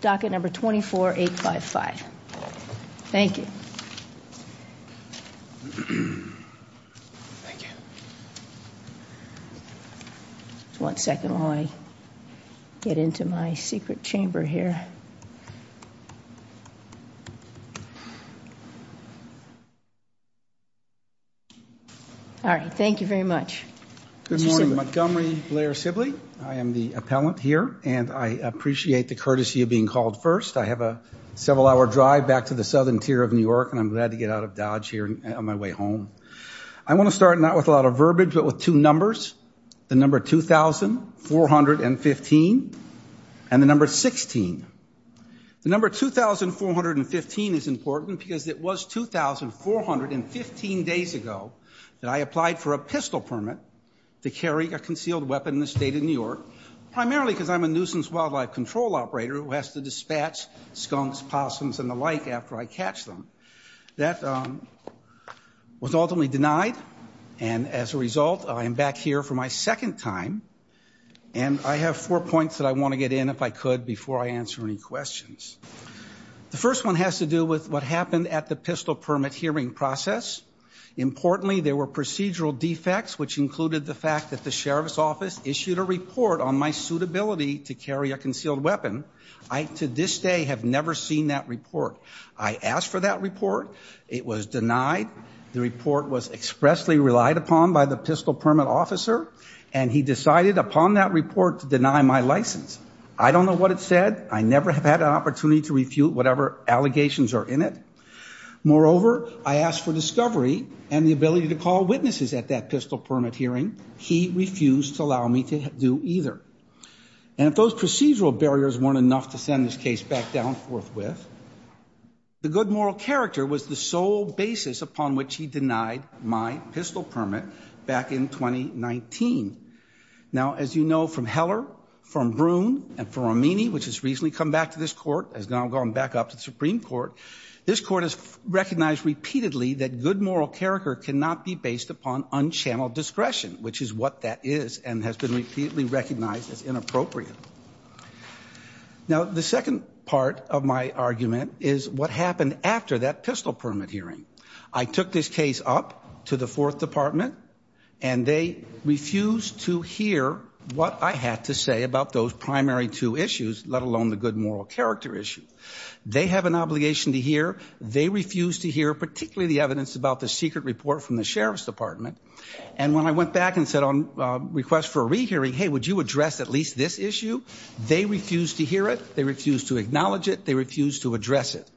Docket Number 24855. Thank you. One second while I get into my secret chamber here. Alright, thank you very much. Good morning Montgomery Blair Sibley. I am the appellant here and I appreciate the courtesy of being called first. I have a several hour drive back to the southern tier of New York and I'm glad to get out of Dodge here on my way home. I want to start not with a lot of verbiage but with two numbers. The number 2415 and the number 16. The number 2415 is important because it was 2415 days ago that I applied for a pistol permit to carry a concealed weapon in the state of New York, primarily because I'm a nuisance wildlife control operator who has to dispatch skunks, possums and the like after I catch them. That was ultimately denied and as a result I am back here for my second time and I have four points that I want to get in if I could before I answer any questions. The first one has to do with what happened at the pistol permit hearing process. Importantly there were procedural defects which included the fact that the sheriff's office issued a report on my suitability to carry a concealed weapon. I to this day have never seen that report. I asked for that report. It was denied. The report was expressly relied upon by the pistol permit officer and he decided upon that report to deny my license. I don't know what it said. I never have had an opportunity to refute whatever allegations are in it. Moreover, I asked for discovery and the ability to call witnesses at that pistol permit hearing. He refused to allow me to do either. And if those procedural barriers weren't enough to send this case back down forthwith, the good moral character was the sole basis upon which he denied my pistol permit back in 2019. Now as you know from Heller, from Bruhn, and from Romini, which has recently come back to this court, has now gone back up to the Supreme Court, this court has recognized repeatedly that good moral character cannot be based upon unchanneled discretion, which is what that is and has been repeatedly recognized as inappropriate. Now the second part of my argument is what happened after that pistol permit hearing. I took this case up to the Fourth Department and they refused to hear what I had to say about those primary two issues, let alone the good moral character issue. They have an obligation to hear. They refused to hear particularly the evidence about the secret report from the Sheriff's Department. And when I went back and said on request for a rehearing, hey, would you address at least this issue? They refused to hear it. They refused to acknowledge it. They refused to address it.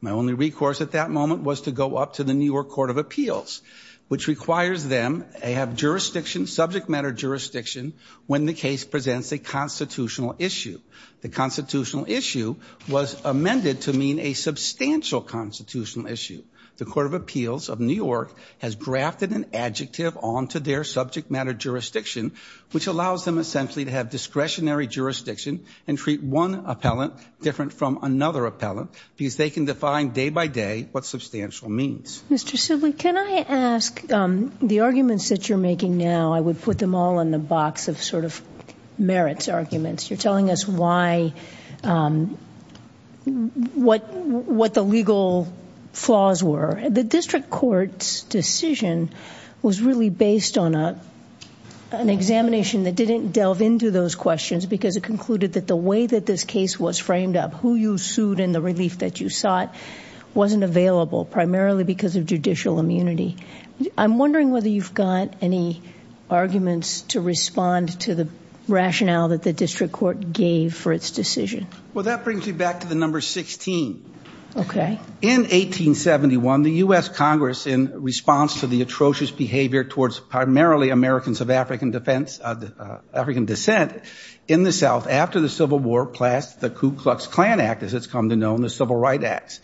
My only recourse at that moment was to go up to the New York Court of Appeals, which requires them to have jurisdiction, subject matter jurisdiction, when the case presents a constitutional issue. The constitutional issue was amended to mean a substantial constitutional issue. The Court of Appeals of New York has grafted an adjective onto their subject matter jurisdiction, which allows them essentially to have discretionary jurisdiction and treat one appellant different from another appellant because they can define day by day what substantial means. Mr. Sibley, can I ask the arguments that you're making now, I would put them all in the box of sort of merits arguments. You're telling us why, what the legal flaws were. The district court's decision was really based on an examination that didn't delve into those questions because it concluded that the way that this case was framed up, who you sued and the relief that you sought, wasn't available, primarily because of judicial immunity. I'm wondering whether you've got any arguments to respond to the rationale that the district court gave for its decision. Well, that brings me back to the number 16. In 1871, the U.S. Congress, in response to the atrocious behavior towards primarily Americans of African defense, African descent, in the South, after the Civil War, passed the Ku Klux Klan Act, as it's come to known, the Civil Rights Act.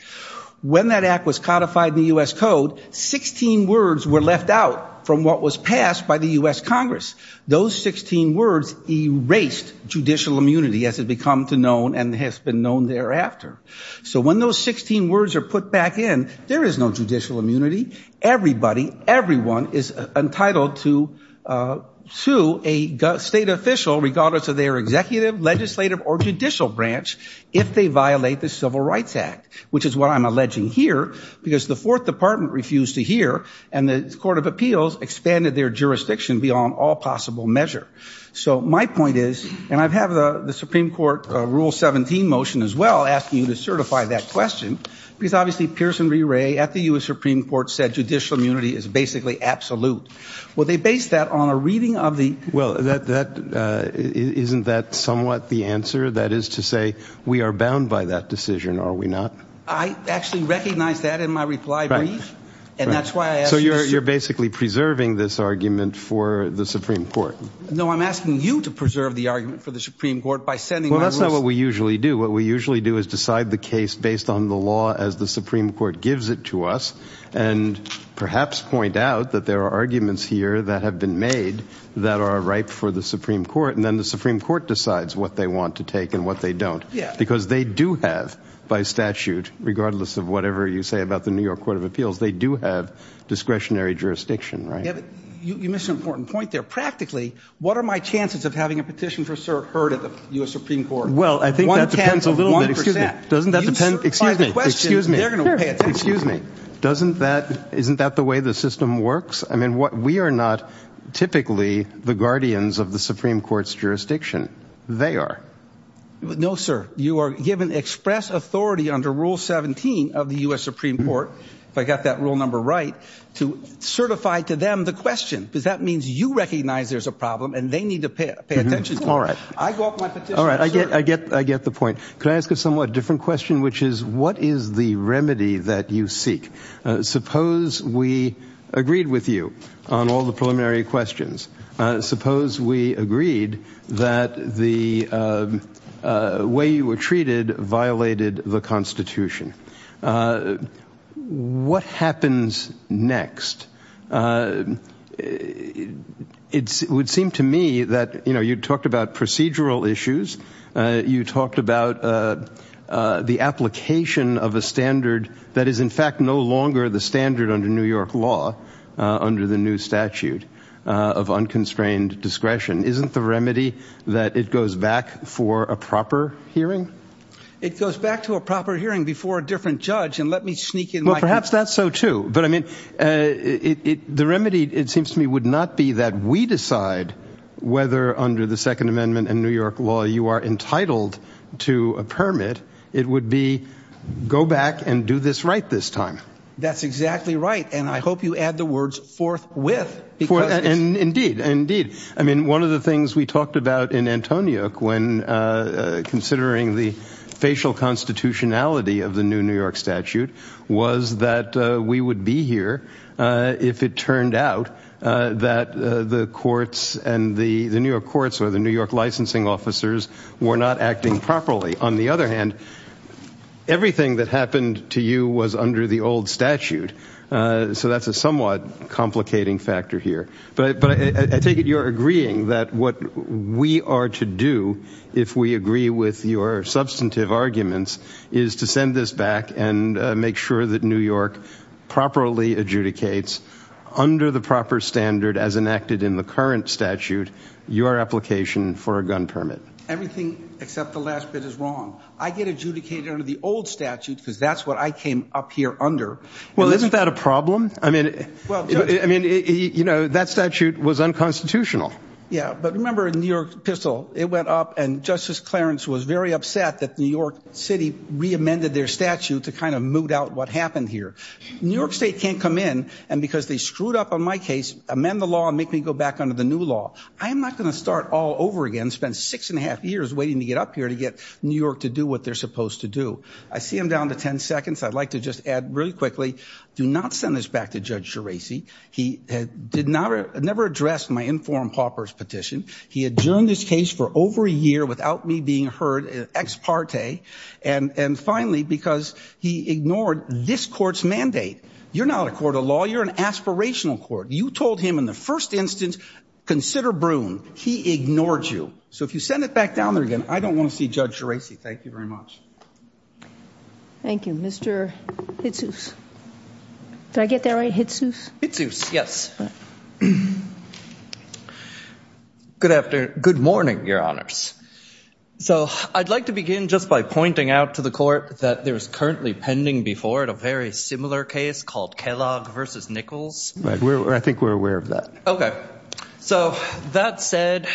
When that act was codified in the U.S. Code, 16 words were left out from what was passed by the U.S. Congress. Those 16 words erased judicial immunity as it had become known and has been known thereafter. So when those 16 words are put back in, there is no judicial immunity. Everybody, everyone is entitled to sue a state official, regardless of their executive, legislative, or judicial branch, if they violate the Civil Rights Act, which is what I'm alleging here, because the Fourth Department refused to hear, and the Court of Appeals expanded their jurisdiction beyond all possible measure. So my point is, and I have the Supreme Court Rule 17 motion as well, asking you to certify that question, because obviously, Pearson V. Ray, at the U.S. Supreme Court, said judicial immunity is basically absolute. Well, they based that on a reading of the Well, isn't that somewhat the answer? That is to say, we are bound by that decision, are we not? I actually recognize that in my reply brief, and that's why I asked you So you're basically preserving this argument for the Supreme Court? No, I'm asking you to preserve the argument for the Supreme Court by sending my request Well, that's not what we usually do. What we usually do is decide the case based on the law as the Supreme Court gives it to us, and perhaps point out that there are arguments here that have been made that are ripe for the Supreme Court, and then the Supreme Court decides what they want to take and what they don't Because they do have, by statute, regardless of whatever you say about the New York Court of Appeals, they do have discretionary jurisdiction, right? You missed an important point there. Practically, what are my chances of having a petition for cert heard at the U.S. Supreme Court? Well, I think that depends a little bit. Excuse me. Doesn't that depend? Excuse me. Excuse me. Isn't that the way the system works? I mean, we are not typically the guardians of the Supreme Court's jurisdiction. They are. No, sir. You are given express authority under Rule 17 of the U.S. Supreme Court, if I got that rule number right, to certify to them the question, because that means you recognize there's a problem and they need to pay attention to it. All right. I get the point. Can I ask a somewhat different question, which is, what is the remedy that you seek? Suppose we agreed with you on all the preliminary questions. Suppose we agreed that the way you were treated violated the Constitution. What happens next? It would seem to me that, you know, you talked about procedural issues. You talked about the application of a standard that is, in fact, no longer the standard under New York law under the new statute of unconstrained discretion. Isn't the remedy that it goes back for a proper hearing? It goes back to a proper hearing before a different judge. And let me sneak in. Well, perhaps that's so, too. But I mean, the remedy, it seems to me, would not be that we decide whether under the Second Amendment and New York law you are entitled to a permit. It would be go back and do this right this time. That's exactly right. And I hope you add the words forthwith. Indeed. Indeed. I mean, one of the things we talked about in Antoniuk when considering the facial constitutionality of the new New York statute was that we would be here if it turned out that the courts and the New York courts or the New York licensing officers were not acting properly. On the other hand, everything that happened to you was under the old statute. So that's a somewhat complicating factor here. But I take it you're agreeing that what we are to do if we agree with your substantive arguments is to send this back and make sure that New York properly adjudicates under the proper standard as enacted in the current statute your application for a gun permit. Everything except the last bit is wrong. I get adjudicated under the old statute because that's what I came up here under. Well, isn't that a problem? I mean, I mean, you know, that statute was unconstitutional. Yeah. But remember in New York pistol, it went up and Justice Clarence was very upset that New York City reamended their statute to kind of moot out what happened here. New York State can't come in. And because they screwed up on my case, amend the law and make me go back under the new law. I am not going to start all over again, spend six and a half years waiting to get up here to get New York to do what they're supposed to do. I see him down to 10 seconds. I'd like to just add really quickly, do not send this back to Judge Geraci. He did not never address my informed paupers petition. He adjourned this case for over a year without me being heard ex parte. And finally, because he ignored this court's mandate. You're not a court of law. You're an aspirational court. You told him in the first instance, consider Broome. He ignored you. So if you send it back down there again, I don't want to see Judge Geraci. Thank you very much. Thank you, Mr. Hitsos. Did I get that right? Hitsos? Hitsos, yes. Good morning, your honors. So I'd like to begin just by pointing out to the court that there is currently pending before it a very similar case called Kellogg versus Nichols. I think we're aware of that. Okay. So that said,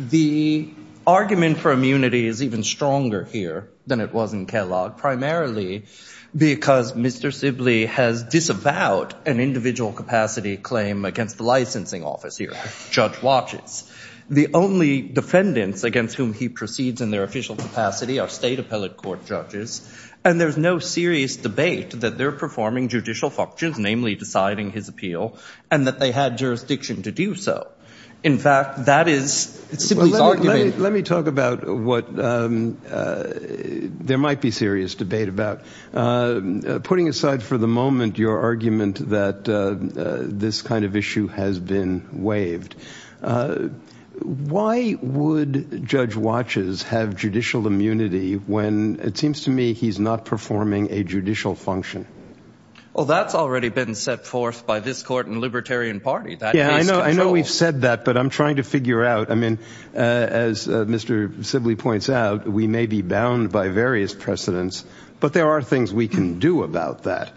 the argument for immunity is even stronger here than it was in Kellogg, primarily because Mr. Sibley has disavowed an individual capacity claim against the licensing office here. The only defendants against whom he proceeds in their official capacity are state appellate court judges. And there's no serious debate that they're performing judicial functions, namely deciding his appeal and that they had jurisdiction to do so. In fact, that is Sibley's argument. Let me talk about what there might be serious debate about. Putting aside for the moment your argument that this kind of issue has been waived, why would Judge Watches have judicial immunity when it seems to me he's not performing a judicial function? Well, that's already been set forth by this court and Libertarian Party. I know we've said that, but I'm trying to figure out. I mean, as Mr. Sibley points out, we may be bound by various precedents, but there are things we can do about that.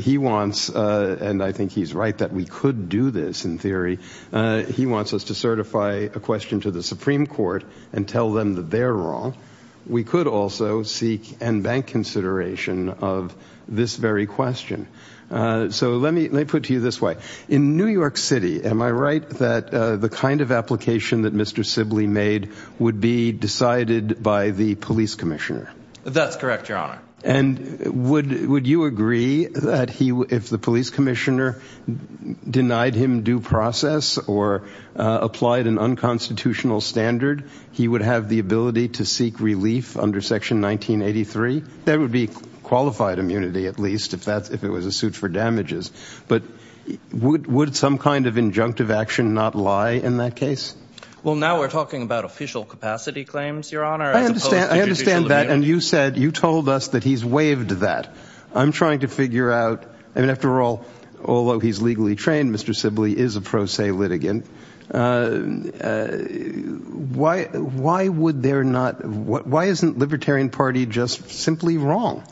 He wants, and I think he's right that we could do this in theory, he wants us to certify a question to the Supreme Court and tell them that they're wrong. We could also seek and bank consideration of this very question. So let me put to you this way. In New York City, am I right that the kind of application that Mr. Sibley made would be decided by the police commissioner? That's correct, Your Honor. And would you agree that if the police commissioner denied him due process or applied an unconstitutional standard, he would have the ability to seek relief under Section 1983? That would be qualified immunity, at least, if it was a suit for damages. But would some kind of injunctive action not lie in that case? Well, now we're talking about official capacity claims, Your Honor, as opposed to judicial immunity. I understand that, and you said, you told us that he's waived that. I'm trying to figure out. I mean, after all, although he's legally trained, Mr. Sibley is a pro se litigant. Why would there not, why isn't Libertarian Party just simply wrong?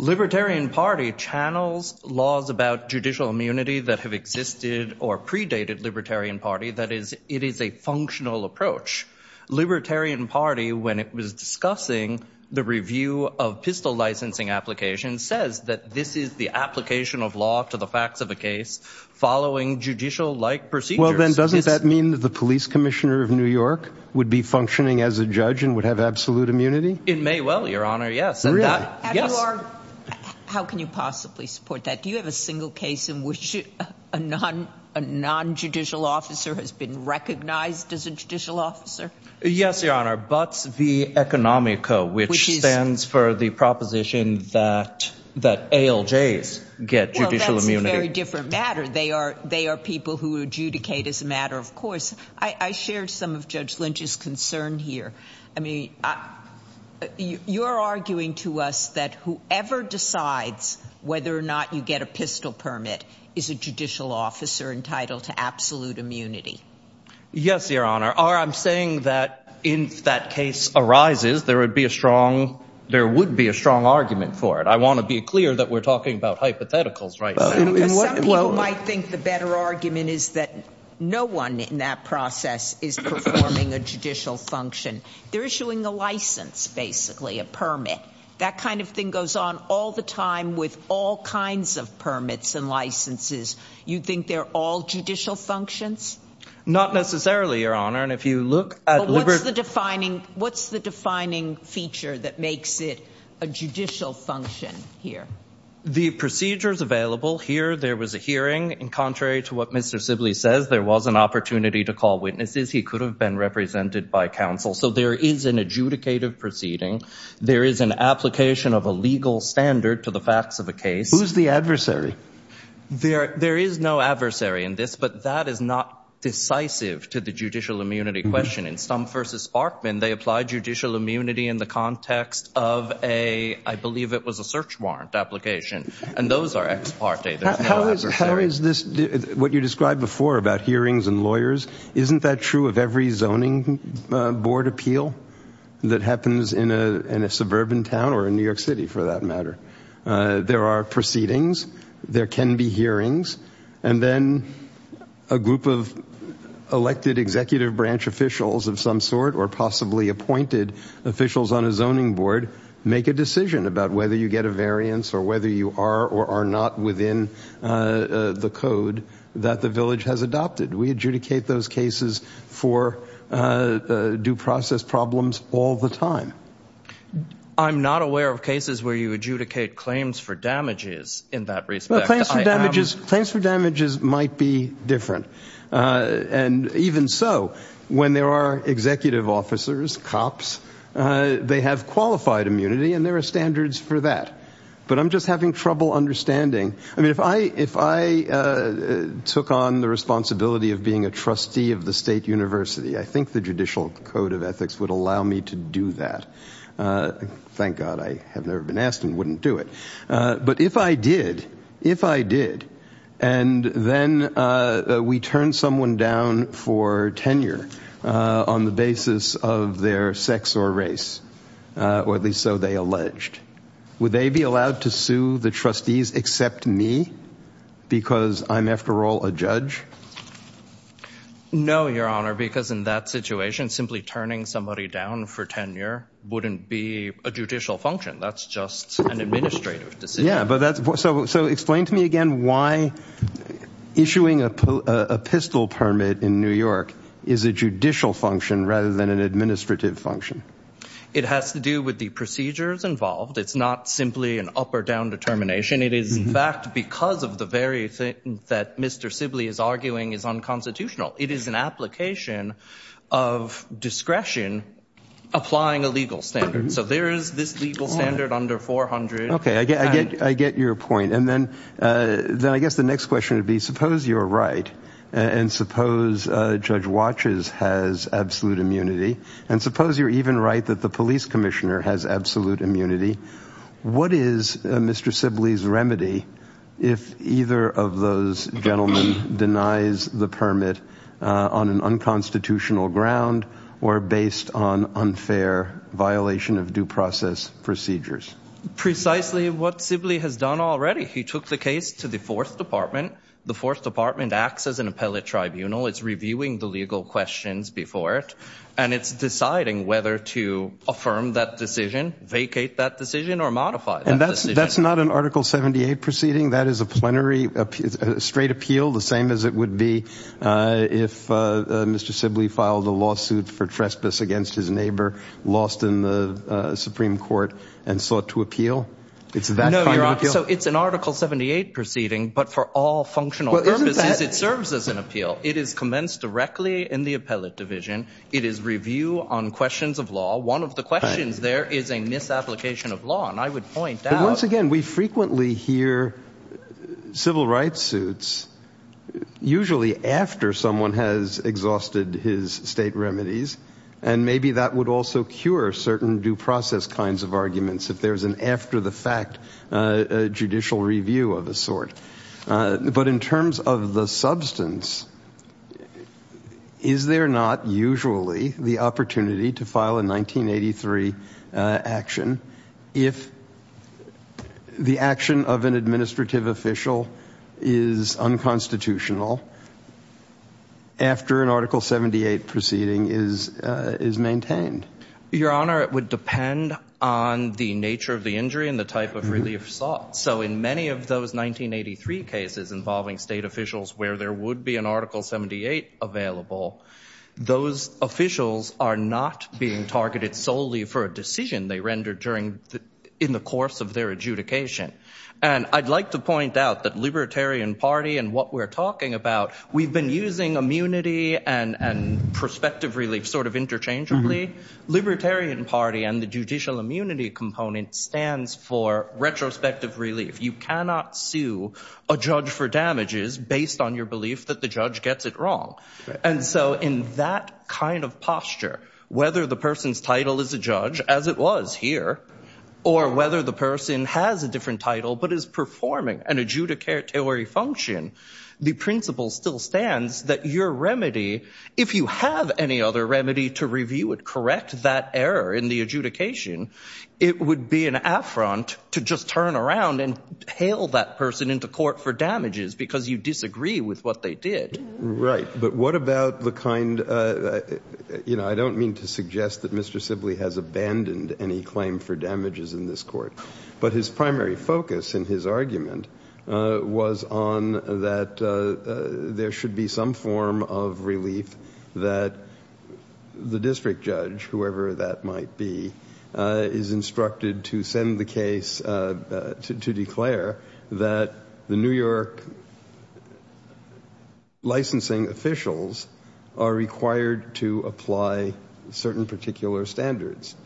Libertarian Party channels laws about judicial immunity that have existed or predated Libertarian Party. That is, it is a functional approach. Libertarian Party, when it was discussing the review of pistol licensing applications, says that this is the application of law to the facts of a case following judicial-like procedures. Well, then doesn't that mean that the police commissioner of New York would be functioning as a judge and would have absolute immunity? It may well, Your Honor, yes. Yes. How can you possibly support that? Do you have a single case in which a non-judicial officer has been recognized as a judicial officer? Yes, Your Honor. Butts v. Economico, which stands for the proposition that ALJs get judicial immunity. Well, that's a very different matter. They are people who adjudicate as a matter of course. I shared some of Judge Lynch's concern here. I mean, you're arguing to us that whoever decides whether or not you get a pistol permit is a judicial officer entitled to absolute immunity. Yes, Your Honor. I'm saying that if that case arises, there would be a strong, there would be a strong argument for it. I want to be clear that we're talking about hypotheticals, right? Some people might think the better argument is that no one in that process is performing a judicial function. They're issuing a license, basically, a permit. That kind of thing goes on all the time with all kinds of permits and licenses. You think they're all judicial functions? Not necessarily, Your Honor. And if you look at – But what's the defining, what's the defining feature that makes it a judicial function here? The procedures available here, there was a hearing. And contrary to what Mr. Sibley says, there was an opportunity to call witnesses. He could have been represented by counsel. So there is an adjudicative proceeding. There is an application of a legal standard to the facts of the case. Who's the adversary? There is no adversary in this, but that is not decisive to the judicial immunity question. In Stumpf v. Sparkman, they applied judicial immunity in the context of a – I believe it was a search warrant application. And those are ex parte. How is this – what you described before about hearings and lawyers, isn't that true of every zoning board appeal that happens in a suburban town or in New York City for that matter? There are proceedings. There can be hearings. And then a group of elected executive branch officials of some sort or possibly appointed officials on a zoning board make a decision about whether you get a variance or whether you are or are not within the code that the village has adopted. We adjudicate those cases for due process problems all the time. I'm not aware of cases where you adjudicate claims for damages in that respect. Claims for damages might be different. And even so, when there are executive officers, cops, they have qualified immunity and there are standards for that. But I'm just having trouble understanding. I mean, if I took on the responsibility of being a trustee of the state university, I think the Judicial Code of Ethics would allow me to do that. Thank God I have never been asked and wouldn't do it. But if I did, if I did, and then we turn someone down for tenure on the basis of their sex or race, or at least so they alleged, would they be allowed to sue the trustees except me because I'm, after all, a judge? No, Your Honor, because in that situation, simply turning somebody down for tenure wouldn't be a judicial function. That's just an administrative decision. So explain to me again why issuing a pistol permit in New York is a judicial function rather than an administrative function. It has to do with the procedures involved. It's not simply an up or down determination. It is, in fact, because of the very thing that Mr. Sibley is arguing is unconstitutional. It is an application of discretion applying a legal standard. So there is this legal standard under 400. Okay, I get your point. And then I guess the next question would be, suppose you're right, and suppose Judge Watches has absolute immunity, and suppose you're even right that the police commissioner has absolute immunity. What is Mr. Sibley's remedy if either of those gentlemen denies the permit on an unconstitutional ground or based on unfair violation of due process procedures? Precisely what Sibley has done already. He took the case to the Fourth Department. The Fourth Department acts as an appellate tribunal. It's reviewing the legal questions before it, and it's deciding whether to affirm that decision, vacate that decision, or modify that decision. And that's not an Article 78 proceeding? That is a plenary straight appeal, the same as it would be if Mr. Sibley filed a lawsuit for trespass against his neighbor, lost in the Supreme Court, and sought to appeal? No, you're wrong. So it's an Article 78 proceeding, but for all functional purposes it serves as an appeal. It is commenced directly in the appellate division. It is review on questions of law. One of the questions there is a misapplication of law, and I would point out. But once again, we frequently hear civil rights suits usually after someone has exhausted his state remedies, and maybe that would also cure certain due process kinds of arguments if there's an after-the-fact judicial review of a sort. But in terms of the substance, is there not usually the opportunity to file a 1983 action if the action of an administrative official is unconstitutional after an Article 78 proceeding is maintained? Your Honor, it would depend on the nature of the injury and the type of relief sought. So in many of those 1983 cases involving state officials where there would be an Article 78 available, those officials are not being targeted solely for a decision they rendered in the course of their adjudication. And I'd like to point out that Libertarian Party and what we're talking about, we've been using immunity and prospective relief sort of interchangeably. Libertarian Party and the judicial immunity component stands for retrospective relief. You cannot sue a judge for damages based on your belief that the judge gets it wrong. And so in that kind of posture, whether the person's title is a judge, as it was here, or whether the person has a different title but is performing an adjudicatory function, the principle still stands that your remedy, if you have any other remedy to review it, correct that error in the adjudication, it would be an affront to just turn around and hail that person into court for damages because you disagree with what they did. Right. But what about the kind, you know, I don't mean to suggest that Mr. Sibley has abandoned any claim for damages in this court, but his primary focus in his argument was on that there should be some form of relief that the district judge, whoever that might be, is instructed to send the case to declare that the New York licensing officials are required to apply certain particular standards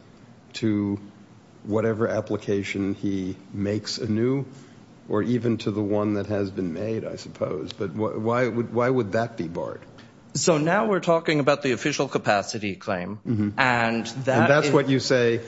to whatever application he makes anew or even to the one that has been made, I suppose. But why would that be barred? So now we're talking about the official capacity claim. And that's what you say,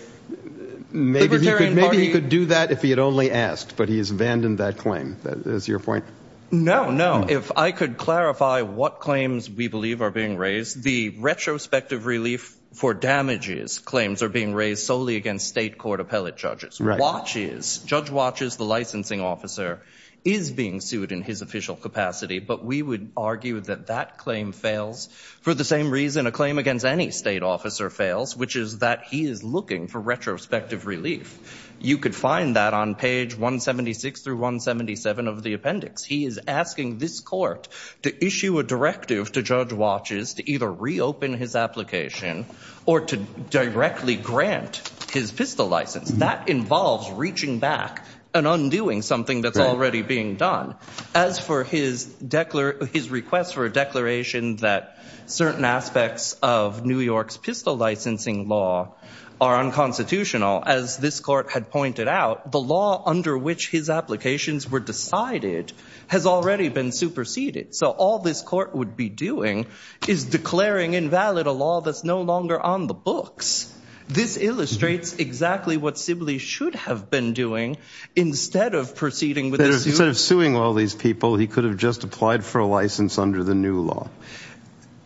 maybe he could do that if he had only asked, but he has abandoned that claim. Is that your point? No, no. If I could clarify what claims we believe are being raised, the retrospective relief for damages claims are being raised solely against state court appellate judges. Watches, Judge Watches, the licensing officer, is being sued in his official capacity, but we would argue that that claim fails for the same reason a claim against any state officer fails, which is that he is looking for retrospective relief. You could find that on page 176 through 177 of the appendix. He is asking this court to issue a directive to Judge Watches to either reopen his application or to directly grant his PISTOL license. That involves reaching back and undoing something that's already being done. As for his request for a declaration that certain aspects of New York's PISTOL licensing law are unconstitutional, as this court had pointed out, the law under which his applications were decided has already been superseded. So all this court would be doing is declaring invalid a law that's no longer on the books. This illustrates exactly what Sibley should have been doing instead of proceeding with this. Instead of suing all these people, he could have just applied for a license under the new law.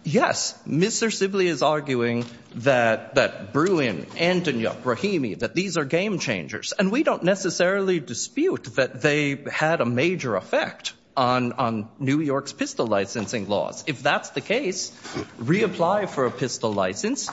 Yes, Mr. Sibley is arguing that Bruin, Antonia, Brahimi, that these are game changers, and we don't necessarily dispute that they had a major effect on New York's PISTOL licensing laws. If that's the case, reapply for a PISTOL license.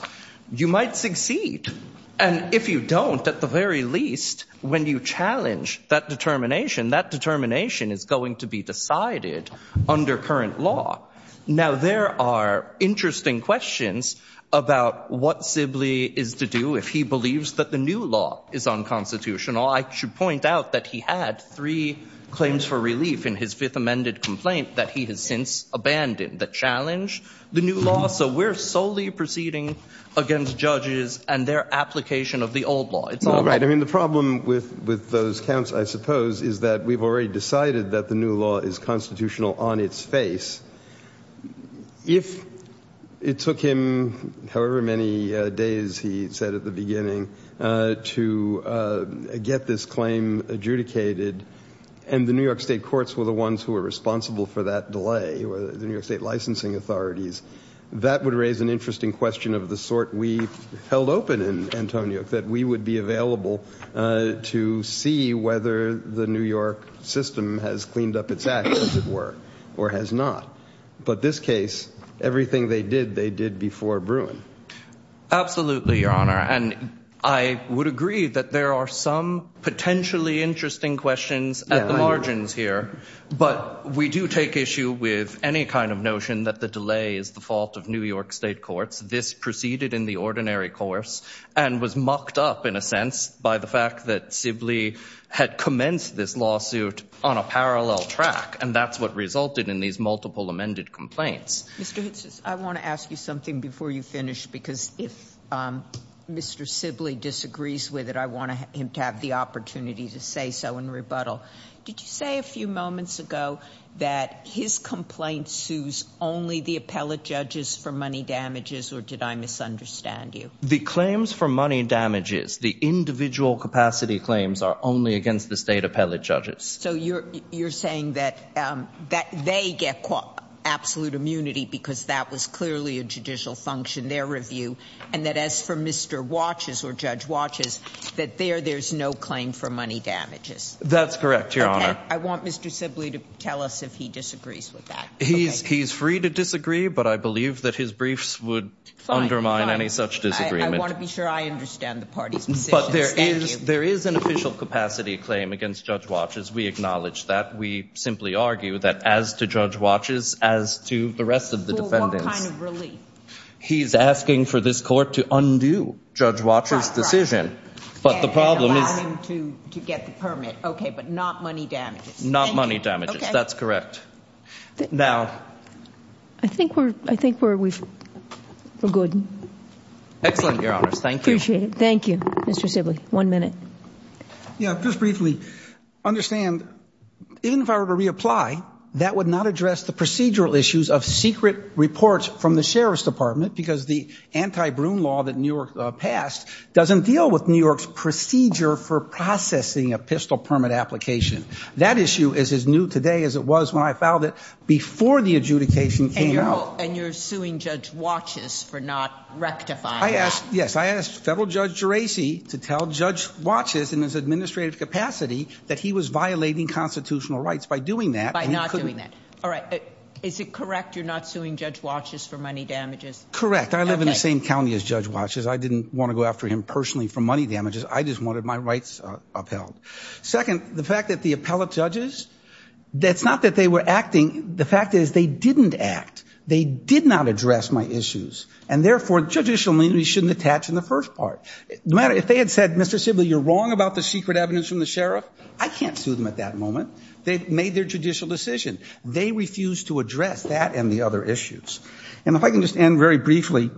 You might succeed, and if you don't, at the very least, when you challenge that determination, that determination is going to be decided under current law. Now, there are interesting questions about what Sibley is to do if he believes that the new law is unconstitutional. I should point out that he had three claims for relief in his fifth amended complaint that he has since abandoned. The challenge, the new law, so we're solely proceeding against judges and their application of the old law. I mean, the problem with those counts, I suppose, is that we've already decided that the new law is constitutional on its face. If it took him however many days, he said at the beginning, to get this claim adjudicated, and the New York State courts were the ones who were responsible for that delay, the New York State licensing authorities, that would raise an interesting question of the sort we held open in Antonio, that we would be available to see whether the New York system has cleaned up its act, as it were, or has not. But this case, everything they did, they did before Bruin. Absolutely, Your Honor, and I would agree that there are some potentially interesting questions at the margins here, but we do take issue with any kind of notion that the delay is the fault of New York State courts. This proceeded in the ordinary course and was mocked up, in a sense, by the fact that Sibley had commenced this lawsuit on a parallel track, and that's what resulted in these multiple amended complaints. Mr. Hitzes, I want to ask you something before you finish, because if Mr. Sibley disagrees with it, I want him to have the opportunity to say so in rebuttal. Did you say a few moments ago that his complaint sues only the appellate judges for money damages, or did I misunderstand you? The claims for money damages, the individual capacity claims, are only against the State appellate judges. So you're saying that they get absolute immunity because that was clearly a judicial function, their review, and that as for Mr. Watches or Judge Watches, that there there's no claim for money damages? That's correct, Your Honor. I want Mr. Sibley to tell us if he disagrees with that. He's free to disagree, but I believe that his briefs would undermine any such disagreement. I want to be sure I understand the party's position. But there is an official capacity claim against Judge Watches. We acknowledge that. We simply argue that as to Judge Watches, as to the rest of the defendants. For what kind of relief? He's asking for this court to undo Judge Watches' decision. And allow him to get the permit, okay, but not money damages. Not money damages. Okay. That's correct. Now. I think we're good. Excellent, Your Honors. Thank you. Appreciate it. Thank you, Mr. Sibley. One minute. Yeah, just briefly, understand, even if I were to reapply, that would not address the procedural issues of secret reports because the anti-Bruin law that New York passed doesn't deal with New York's procedure for processing a pistol permit application. That issue is as new today as it was when I filed it before the adjudication came out. And you're suing Judge Watches for not rectifying that. Yes. I asked Federal Judge Geraci to tell Judge Watches in his administrative capacity that he was violating constitutional rights by doing that. By not doing that. All right. Is it correct you're not suing Judge Watches for money damages? Correct. I live in the same county as Judge Watches. I didn't want to go after him personally for money damages. I just wanted my rights upheld. Second, the fact that the appellate judges, that's not that they were acting. The fact is they didn't act. They did not address my issues. And, therefore, judicial leniency shouldn't attach in the first part. If they had said, Mr. Sibley, you're wrong about the secret evidence from the sheriff, I can't sue them at that moment. They've made their judicial decision. They refused to address that and the other issues. And if I can just end very briefly,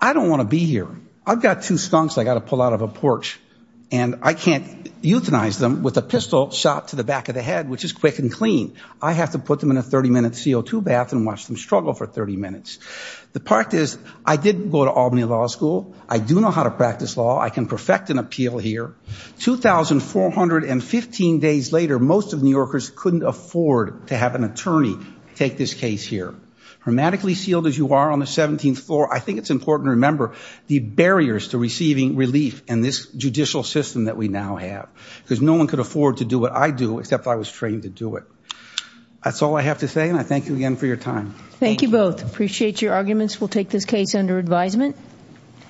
I don't want to be here. I've got two skunks I've got to pull out of a porch. And I can't euthanize them with a pistol shot to the back of the head, which is quick and clean. I have to put them in a 30-minute CO2 bath and watch them struggle for 30 minutes. The part is I did go to Albany Law School. I do know how to practice law. I can perfect an appeal here. 2,415 days later, most of New Yorkers couldn't afford to have an attorney take this case here. Grammatically sealed as you are on the 17th floor, I think it's important to remember the barriers to receiving relief in this judicial system that we now have. Because no one could afford to do what I do, except I was trained to do it. That's all I have to say, and I thank you again for your time. Thank you both. Appreciate your arguments. We'll take this case under advisement.